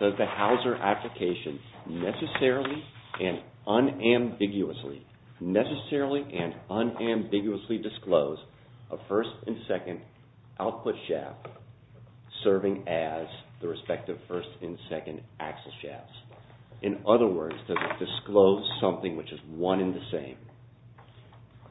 Does the Hauser application necessarily and unambiguously disclose a first and second output shaft serving as the respective first and second axle shafts? In other words, does it disclose something which is one and the same?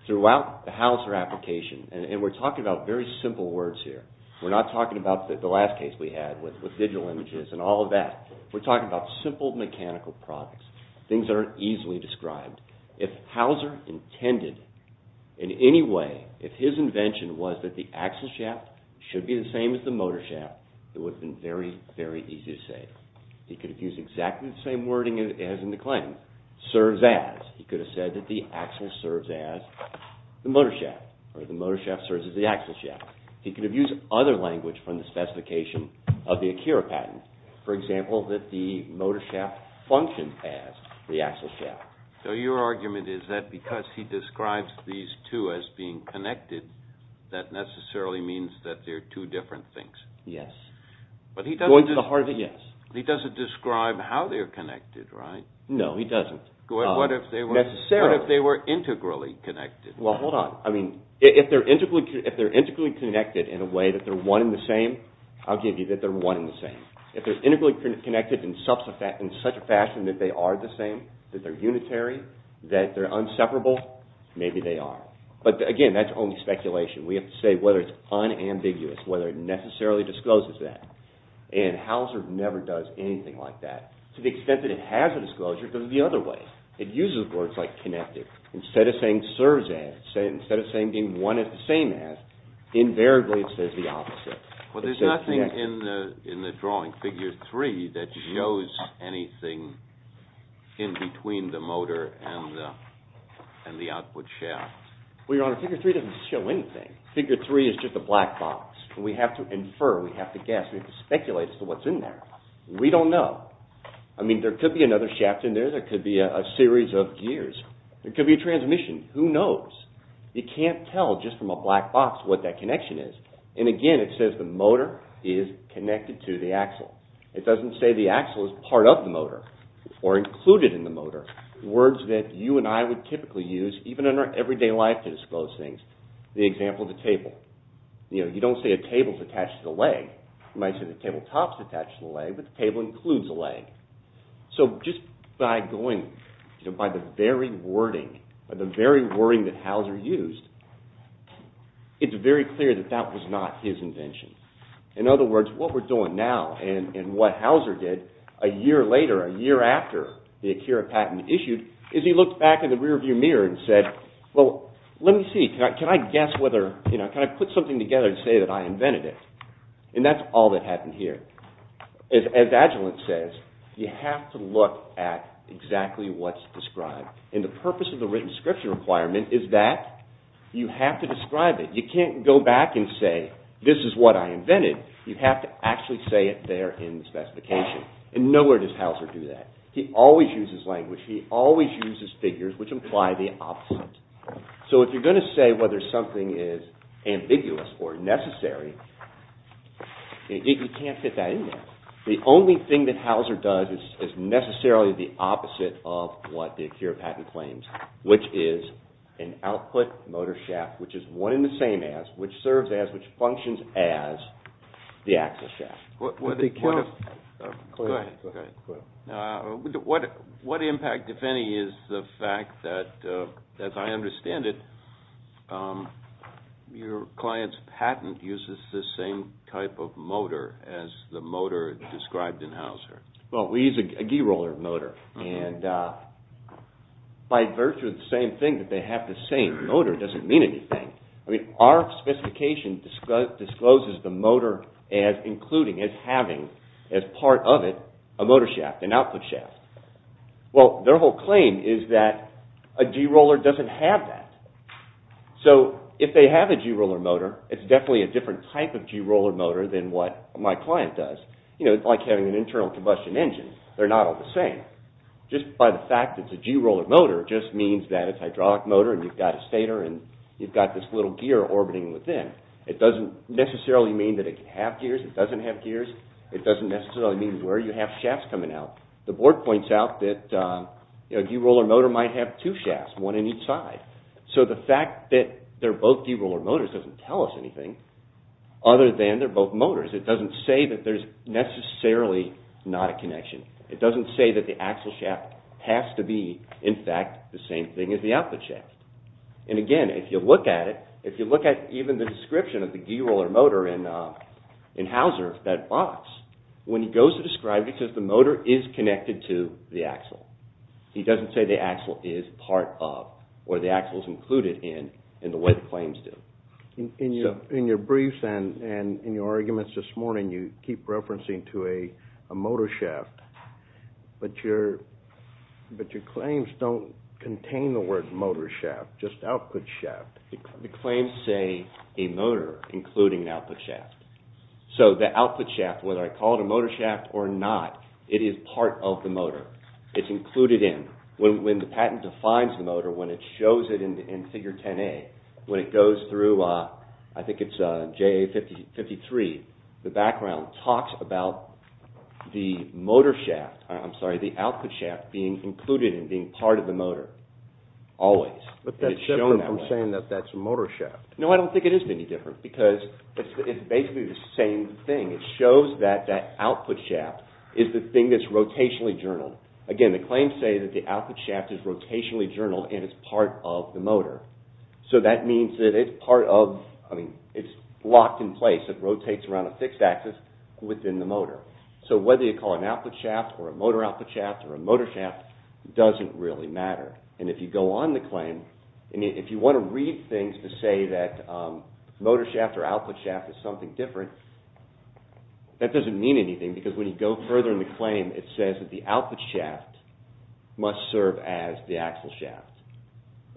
Throughout the Hauser application, and we're talking about very simple words here, we're not talking about the last case we had with digital images and all of that, we're talking about simple mechanical products, things that aren't easily described. If Hauser intended in any way, if his invention was that the axle shaft should be the same as the motor shaft, it would have been very, very easy to say. He could have used exactly the same wording as in the claim, serves as. He could have said that the axle serves as the motor shaft, or the motor shaft serves as the axle shaft. He could have used other language from the specification of the ACHARA patent. For example, that the motor shaft functions as the axle shaft. So your argument is that because he describes these two as being connected, that necessarily means that they're two different things? Yes. But he doesn't... Going to the heart of it, yes. He doesn't describe how they're connected, right? No, he doesn't. What if they were... Necessarily. What if they were integrally connected? Well, hold on. I mean, if they're integrally connected in a way that they're one and the same, I'll give you that they're one and the same. If they're integrally connected in such a fashion that they are the same, that they're unitary, that they're inseparable, maybe they are. But again, that's only speculation. We have to say whether it's unambiguous, whether it necessarily discloses that. And Hauser never does anything like that. To the extent that it has a disclosure, it goes the other way. It uses words like connected. Instead of saying serves as, instead of saying being one and the same as, invariably it says the opposite. Well, there's nothing in the drawing, figure three, that shows anything in between the motor and the output shaft. Well, Your Honor, figure three doesn't show anything. Figure three is just a black box. We have to infer, we have to guess, we have to speculate as to what's in there. We don't know. I mean, there could be another shaft in there, there could be a series of gears. There could be a transmission. Who knows? You can't tell just from a black box what that connection is. And again, it says the motor is connected to the axle. It doesn't say the axle is part of the motor or included in the motor. Words that you and I would typically use even in our everyday life to disclose things. The example of the table. You know, you don't say a table's attached to the leg. You might say the tabletop's attached to the leg, but the table includes the leg. So just by going, you know, by the very wording, by the very wording that Hauser used, it's very clear that that was not his invention. In other words, what we're doing now and what Hauser did a year later, a year after the Acura patent issued, is he looked back in the rear view mirror and said, well, let me see, can I guess whether, you know, can I put something together and say that I invented it? And that's all that happened here. As Agilent says, you have to look at exactly what's described. And the purpose of the written scripture requirement is that you have to describe it. You can't go back and say this is what I invented. You have to actually say it there in the specification. And nowhere does Hauser do that. He always uses language. He always uses figures which imply the opposite. So if you're going to say whether something is ambiguous or necessary, you can't fit that in there. The only thing that Hauser does is necessarily the opposite of what the Acura patent claims, which is an output motor shaft, which is one in the same as, which serves as, which functions as the axle shaft. What impact, if any, is the fact that, as I understand it, your client's patent uses the same type of motor as the motor described in Hauser? Well, we use a G-roller motor. And by virtue of the same thing, that they have the same motor doesn't mean anything. I mean, our specification discloses the motor as including, as having, as part of it, a motor shaft, an output shaft. Well, their whole claim is that a G-roller doesn't have that. So if they have a G-roller motor, it's definitely a different type of G-roller motor than what my client does. You know, like having an internal combustion engine, they're not all the same. Just by the fact that it's a G-roller motor just means that it's a hydraulic motor and you've got a stator and you've got this little gear orbiting within. It doesn't necessarily mean that it can have gears. It doesn't have gears. It doesn't necessarily mean where you have shafts coming out. The board points out that a G-roller motor might have two shafts, one on each side. So the fact that they're both G-roller motors doesn't tell us anything other than they're both motors. It doesn't say that there's necessarily not a connection. It doesn't say that the axle shaft has to be, in fact, the same thing as the output shaft. And again, if you look at it, if you look at even the description of the G-roller motor in Hauser, that box, when he goes to describe it, he says the motor is connected to the axle. He doesn't say the axle is part of or the axle is included in, in the way the claims do. In your briefs and in your arguments this morning, you keep referencing to a motor shaft, but your claims don't contain the word motor shaft, just output shaft. The claims say a motor, including an output shaft. So the output shaft, whether I call it a motor shaft or not, it is part of the motor. It's included in. When the patent defines the motor, when it shows it in Figure 10A, when it goes through, I think it's JA-53, the background talks about the motor shaft, I'm sorry, the output shaft being included and being part of the motor, always. But that's different from saying that that's a motor shaft. No, I don't think it is any different because it's basically the same thing. It shows that that output shaft is the thing that's rotationally journaled. Again, the claims say that the output shaft is rotationally journaled and it's part of the motor. So that means that it's part of, I mean, it's locked in place. It rotates around a fixed axis within the motor. It doesn't really matter. And if you go on the claim, and if you want to read things to say that motor shaft or output shaft is something different, that doesn't mean anything because when you go further in the claim, it says that the output shaft must serve as the axle shaft.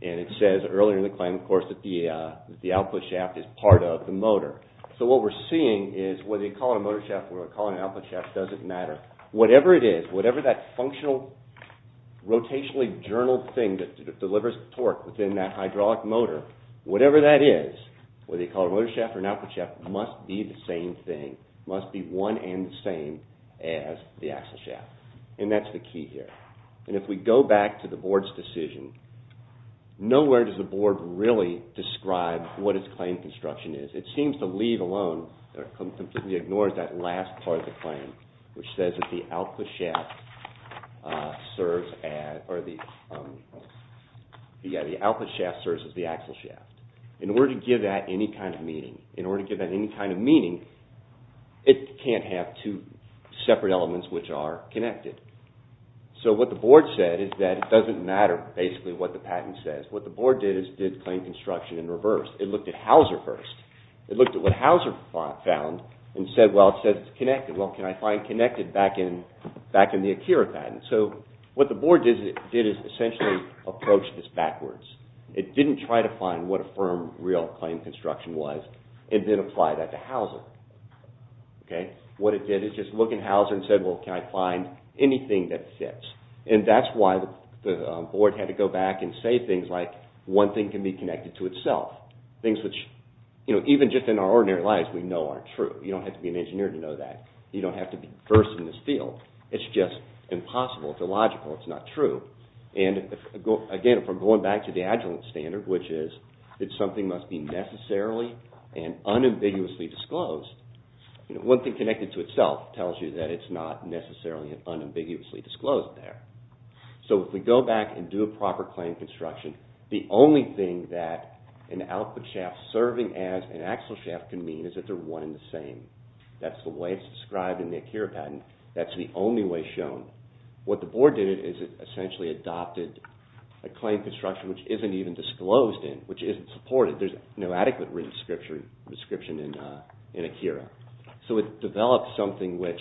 And it says earlier in the claim, of course, that the output shaft is part of the motor. So what we're seeing is whether you call it a motor shaft or you call it a rotationally journaled thing that delivers torque within that hydraulic motor, whatever that is, whether you call it a motor shaft or an output shaft, must be the same thing, must be one and the same as the axle shaft. And that's the key here. And if we go back to the board's decision, nowhere does the board really describe what its claim construction is. It seems to leave alone or completely ignores that last part of the claim, which says that the output shaft serves as the axle shaft. In order to give that any kind of meaning, it can't have two separate elements which are connected. So what the board said is that it doesn't matter basically what the patent says. What the board did is did claim construction in reverse. It looked at Hauser first. It looked at what can I find connected back in the Akira patent. So what the board did is essentially approach this backwards. It didn't try to find what a firm real claim construction was and then apply that to Hauser. What it did is just look at Hauser and said, well, can I find anything that fits? And that's why the board had to go back and say things like one thing can be connected to itself. Things which even just in our ordinary lives we know aren't true. You don't have to be an engineer to know that. You don't have to be versed in this field. It's just impossible. It's illogical. It's not true. And again, if we're going back to the Agilent standard, which is that something must be necessarily and unambiguously disclosed, one thing connected to itself tells you that it's not necessarily and unambiguously disclosed there. So if we go back and do a proper claim construction, the only thing that an output shaft serving as an axle shaft can mean is that they're one and the same. That's the way it's described in the Akira patent. That's the only way shown. What the board did is it essentially adopted a claim construction which isn't even disclosed in, which isn't supported. There's no adequate written description in Akira. So it developed something which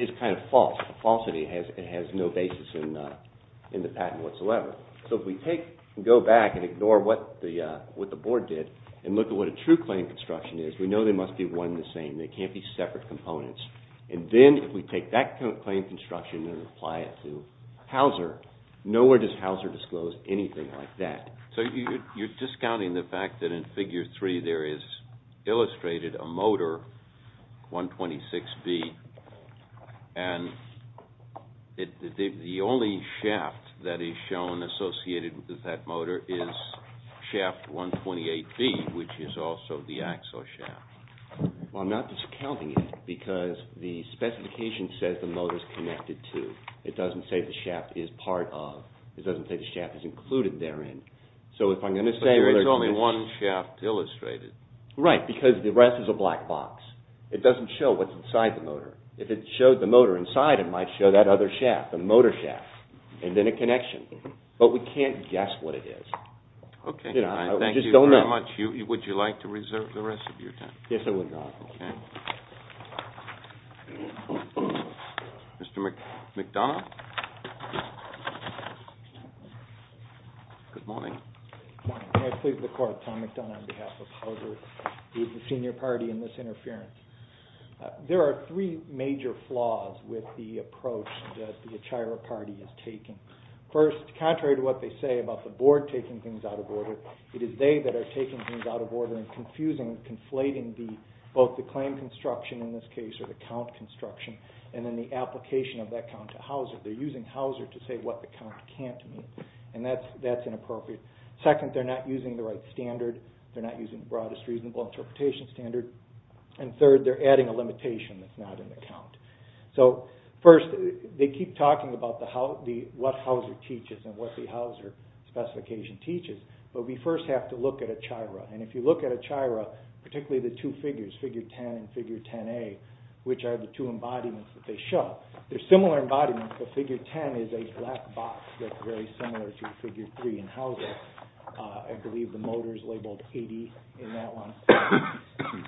is kind of false. The falsity has no basis in the patent whatsoever. So if we take and go back and ignore what the board did and look at what a true claim construction is, we know they must be one and the same. They can't be separate components. And then if we take that claim construction and apply it to Hauser, nowhere does Hauser disclose anything like that. So you're discounting the fact that in Figure 3 there is illustrated a motor, 126B, and the only shaft that is shown associated with that motor is shaft 128B, which is also the axle shaft. Well, I'm not discounting it because the specification says the motor's connected to. It doesn't say the shaft is part of. It doesn't say the shaft is included therein. So if I'm going to say... But there's only one shaft illustrated. Right, because the rest is a black box. It doesn't show what's inside the motor. If it showed the motor inside, it might show that other shaft, the motor shaft, and then a connection. But we can't guess what it is. Okay. I just don't know. Thank you very much. Would you like to reserve the rest of your time? Yes, I would, Your Honor. Okay. Mr. McDonough? Good morning. Good morning. May I please the Court, Tom McDonough on behalf of Hauser, the senior party in this case, and to express my condolences with the approach that the Achaira party is taking. First, contrary to what they say about the Board taking things out of order, it is they that are taking things out of order and confusing, conflating both the claim construction in this case or the count construction and then the application of that count to Hauser. They're using Hauser to say what the count can't mean, and that's inappropriate. Second, they're not using the right standard. They're not using the broadest reasonable interpretation standard. And third, they're adding a limitation that's not in the count. So first, they keep talking about what Hauser teaches and what the Hauser specification teaches, but we first have to look at Achaira. And if you look at Achaira, particularly the two figures, figure 10 and figure 10A, which are the two embodiments that they show, they're similar embodiments, but figure 10 is a black box that's very similar to figure 3 in Hauser. I believe the motor is labeled 80 in that one.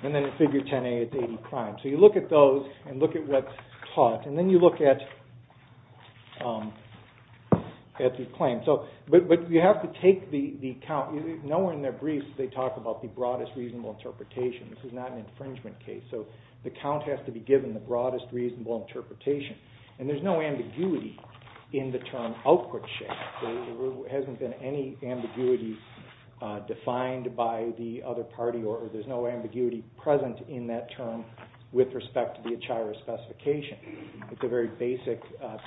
And then in figure 10A, it's 80 prime. So you look at those and look at what's taught, and then you look at the claim. But you have to take the count. Nowhere in their briefs do they talk about the broadest reasonable interpretation. This is not an infringement case. So the count has to be given the broadest reasonable interpretation. And there's no ambiguity in the term output shaft. There hasn't been any ambiguity defined by the other party, or there's no ambiguity present in that term with respect to the Achaira specification. It's a very basic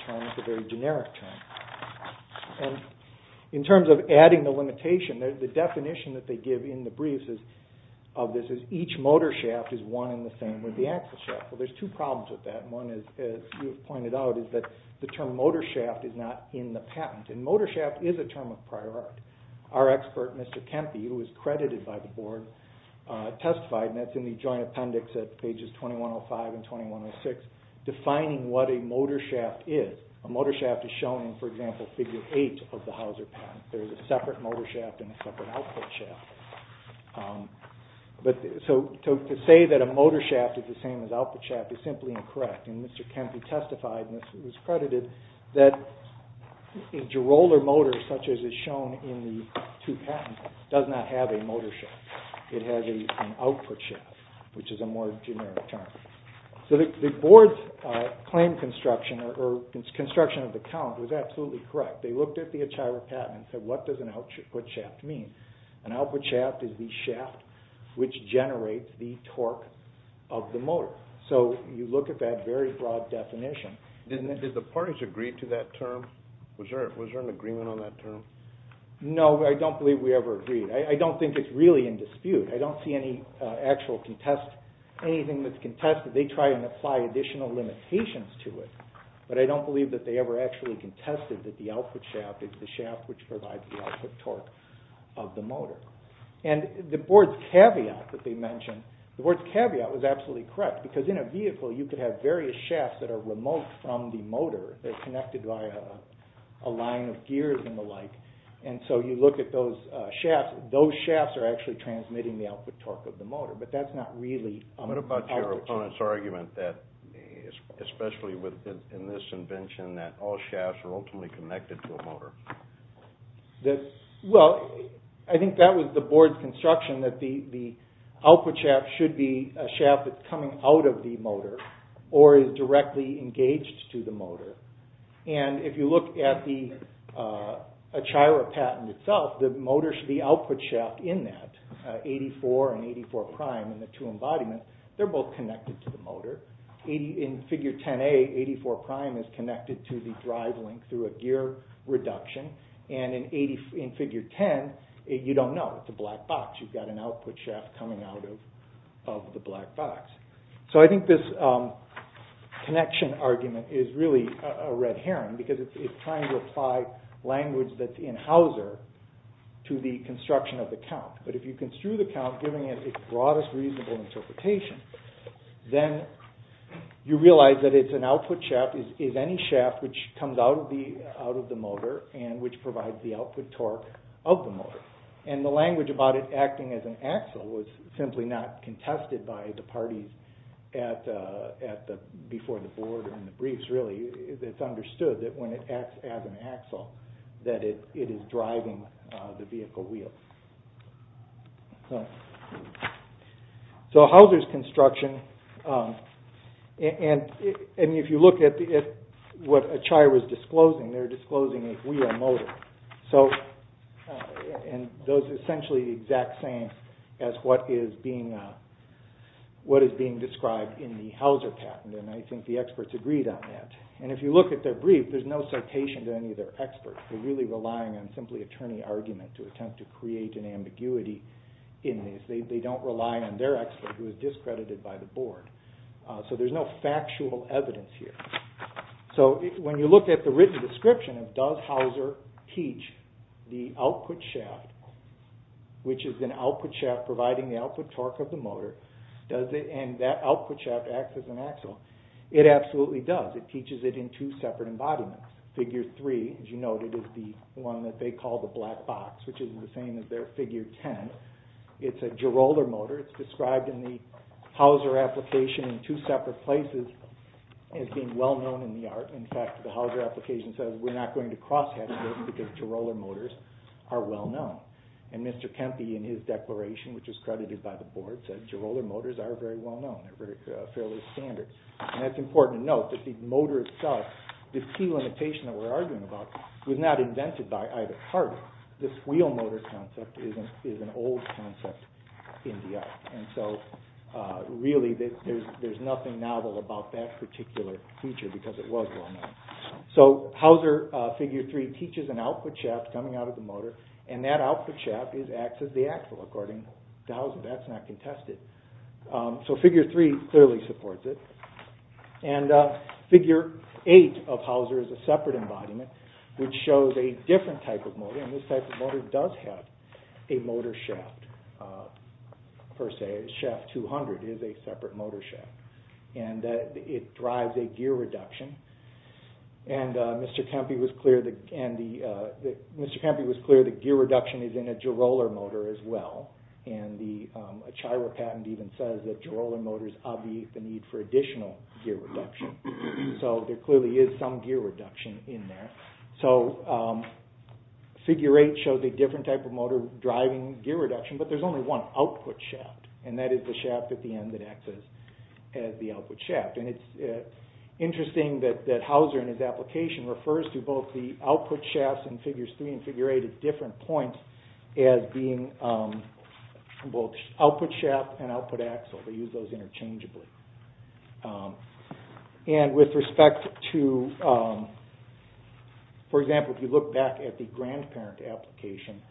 term. It's a very generic term. And in terms of adding the limitation, the definition that they give in the briefs of this is each motor shaft is one and the same with the axle shaft. Well, there's two problems with that. One is, as you've pointed out, is that the term motor shaft is not in the patent. And motor shaft is a term of prior art. Our expert, Mr. Kempe, who was credited by the board, testified, and that's in the joint appendix at pages 2105 and 2106, defining what a motor shaft is. A motor shaft is shown in, for example, figure 8 of the Hauser patent. There is a separate motor shaft and a separate output shaft. So to say that a motor shaft is the same as output shaft is simply incorrect. And Mr. Kempe testified, and this was credited, that a derailleur motor, such as is shown in the two patents, does not have a motor shaft. It has an output shaft, which is a more generic term. So the board's claim construction, or construction of the count, was absolutely correct. They looked at the Achaira patent and said, what does an output shaft mean? An output shaft is the shaft which generates the torque of the motor. So you look at that very broad definition. Did the parties agree to that term? Was there an agreement on that term? No, I don't believe we ever agreed. I don't think it's really in dispute. I don't see any actual contest, anything that's contested. They try and apply additional limitations to it, but I don't believe that they ever actually contested that the output shaft is the shaft which provides the output torque of the motor. And the board's caveat that they mentioned, the board's caveat was absolutely correct, because in a vehicle you could have various shafts that are remote from the motor. They're connected via a line of gears and the like. And so you look at those shafts, those shafts are actually transmitting the output torque of the motor, but that's not really... What about your opponent's argument that, especially in this invention, that all shafts are ultimately connected to a motor? Well, I think that was the board's construction, that the output shaft should be a shaft that's coming out of the motor or is directly engaged to the motor. And if you look at the Achira patent itself, the motor should be the output shaft in that. 84 and 84 prime in the two embodiments, they're both connected to the motor. In figure 10A, 84 prime is connected to the drive link through a gear reduction. And in figure 10, you don't know. It's a black box. You've got an output shaft coming out of the black box. So I think this connection argument is really a red herring, because it's trying to apply language that's in Hauser to the construction of the count. But if you construe the count, giving it its broadest reasonable interpretation, then you realize that it's an output shaft is any shaft which comes out of the motor and which provides the output torque of the motor. And the language about it acting as an axle was simply not contested by the parties before the board and the briefs, really. It's understood that when it acts as an axle, that it is driving the vehicle wheel. So Hauser's construction, and if you look at what Achai was disclosing, they're disclosing a wheel motor. And those are essentially the exact same as what is being described in the Hauser patent, and I think the experts agreed on that. And if you look at their brief, there's no citation to any of their experts. They're really relying on simply attorney argument to attempt to create an ambiguity in this. They don't rely on their expert who is discredited by the board. So there's no factual evidence here. So when you look at the written description of does Hauser teach the output shaft, which is an output shaft providing the output torque of the motor, and that output shaft acts as an axle, it absolutely does. It teaches it in two separate embodiments. Figure three, as you noted, is the one that they call the black box, which is the same as their figure ten. It's a gyrolar motor. It's described in the Hauser application in two separate places as being well-known in the art. In fact, the Hauser application says we're not going to cross-hatch this because gyrolar motors are well-known. And Mr. Kempe, in his declaration, which is credited by the board, said gyrolar motors are very well-known. They're fairly standard. And it's important to note that the motor itself, the key limitation that we're arguing about, was not invented by either party. This wheel motor concept is an old concept in the art. And so really there's nothing novel about that particular feature because it was well-known. So Hauser figure three teaches an output shaft coming out of the motor, and that output shaft acts as the axle, according to Hauser. That's not contested. So figure three clearly supports it. And figure eight of Hauser is a separate embodiment, which shows a different type of motor. And this type of motor does have a motor shaft, per se. Shaft 200 is a separate motor shaft. And it drives a gear reduction. And Mr. Kempe was clear that gear reduction is in a gyrolar motor as well. And the Achira patent even says that gyrolar motors obviate the need for additional gear reduction. So there clearly is some gear reduction in there. So figure eight shows a different type of motor driving gear reduction, but there's only one output shaft. And that is the shaft at the end that acts as the output shaft. And it's interesting that Hauser, in his application, refers to both the output shafts in figures three and figure eight at different points as being both output shaft and output axle. They use those interchangeably. And with respect to, for example, if you look back at the grandparent application,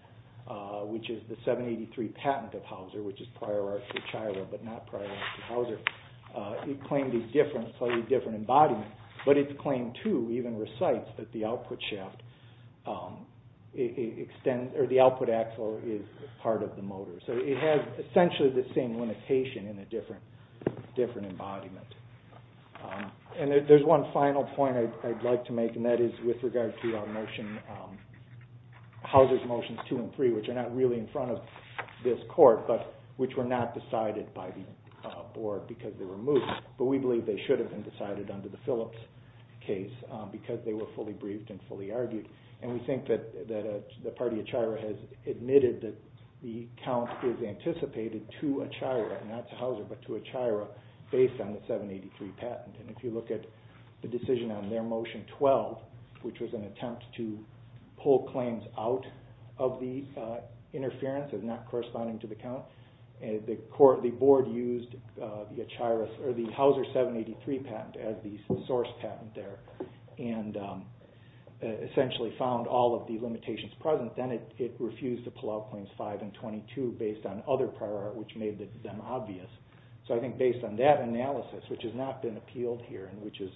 which is the 783 patent of Hauser, which is prior art to Achira but not prior art to Hauser, it claimed a different, slightly different embodiment. But its claim, too, even recites that the output shaft extends, or the output axle is part of the motor. So it has essentially the same limitation in a different embodiment. And there's one final point I'd like to make, and that is with regard to Hauser's motions two and three, which are not really in front of this court, but which were not decided by the board because they were moved. But we believe they should have been decided under the Phillips case because they were fully briefed and fully argued. And we think that the party of Achira has admitted that the count is anticipated to Achira, not to Hauser, but to Achira based on the 783 patent. And if you look at the decision on their motion 12, which was an attempt to pull claims out of the interference as not corresponding to the count, the board used the Hauser 783 patent as the source patent there and essentially found all of the limitations present. Then it refused to pull out claims five and 22 based on other prior art, which made them obvious. So I think based on that analysis, which has not been appealed here and which is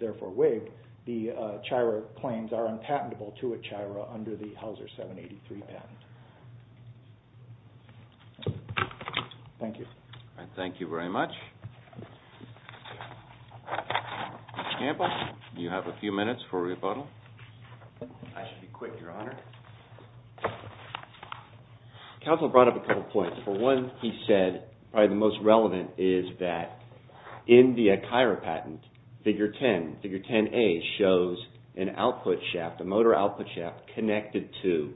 therefore waived, the Achira claims are unpatentable to Achira under the Hauser 783 patent. Thank you. Thank you very much. Mr. Campbell, you have a few minutes for rebuttal. I should be quick, Your Honor. The counsel brought up a couple of points. For one, he said probably the most relevant is that in the Achira patent, figure 10, figure 10A shows an output shaft, a motor output shaft connected to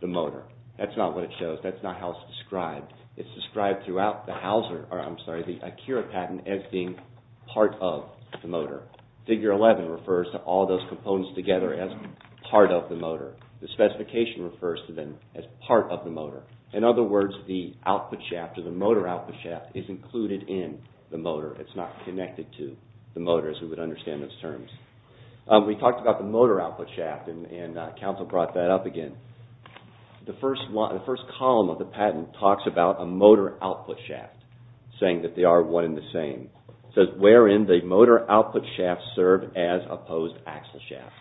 the motor. That's not what it shows. That's not how it's described. It's described throughout the Achira patent as being part of the motor. Figure 11 refers to all those components together as part of the motor. The specification refers to them as part of the motor. In other words, the output shaft or the motor output shaft is included in the motor. It's not connected to the motor as we would understand those components. We talked about the motor output shaft, and counsel brought that up again. The first column of the patent talks about a motor output shaft, saying that they are one and the same. It says wherein the motor output shafts serve as opposed axle shafts.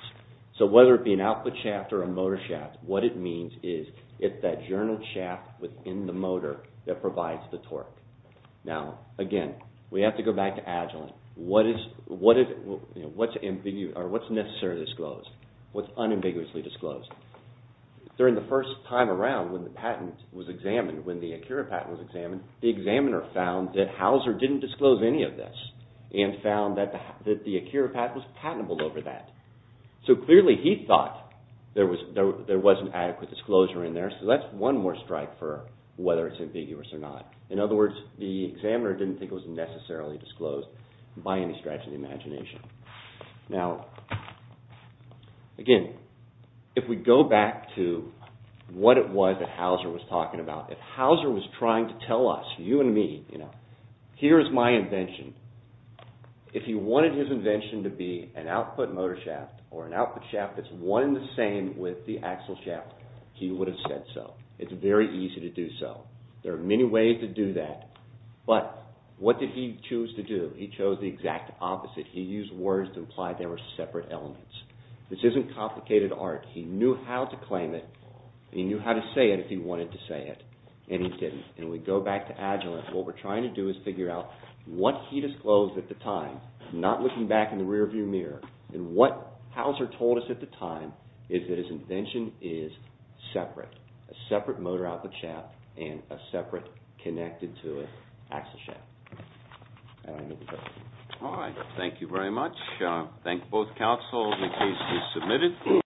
So whether it be an output shaft or a motor shaft, what it means is it's that journaled shaft within the motor that provides the torque. Now, again, we have to go back to Agilent. What's necessarily disclosed? What's unambiguously disclosed? During the first time around when the patent was examined, when the Achira patent was examined, the examiner found that Hauser didn't disclose any of this and found that the Achira patent was patentable over that. So clearly he thought there was an adequate disclosure in there, so that's one more strike for whether it's ambiguous or not. In other words, the examiner didn't think it was necessarily disclosed by any stretch of the imagination. Now, again, if we go back to what it was that Hauser was talking about, if Hauser was trying to tell us, you and me, you know, here is my invention, if he wanted his invention to be an output motor shaft or an output shaft that's one and the same with the axle shaft, he would have said so. It's very easy to do that, but what did he choose to do? He chose the exact opposite. He used words to imply there were separate elements. This isn't complicated art. He knew how to claim it, and he knew how to say it if he wanted to say it, and he didn't. And we go back to Agilent. What we're trying to do is figure out what he disclosed at the time, not looking back in the rearview mirror, and what Hauser told us at the time is that his invention is separate, a separate motor output shaft, and a separate connected to it axle shaft. All right. Thank you very much. Thank both counsel. The case is submitted.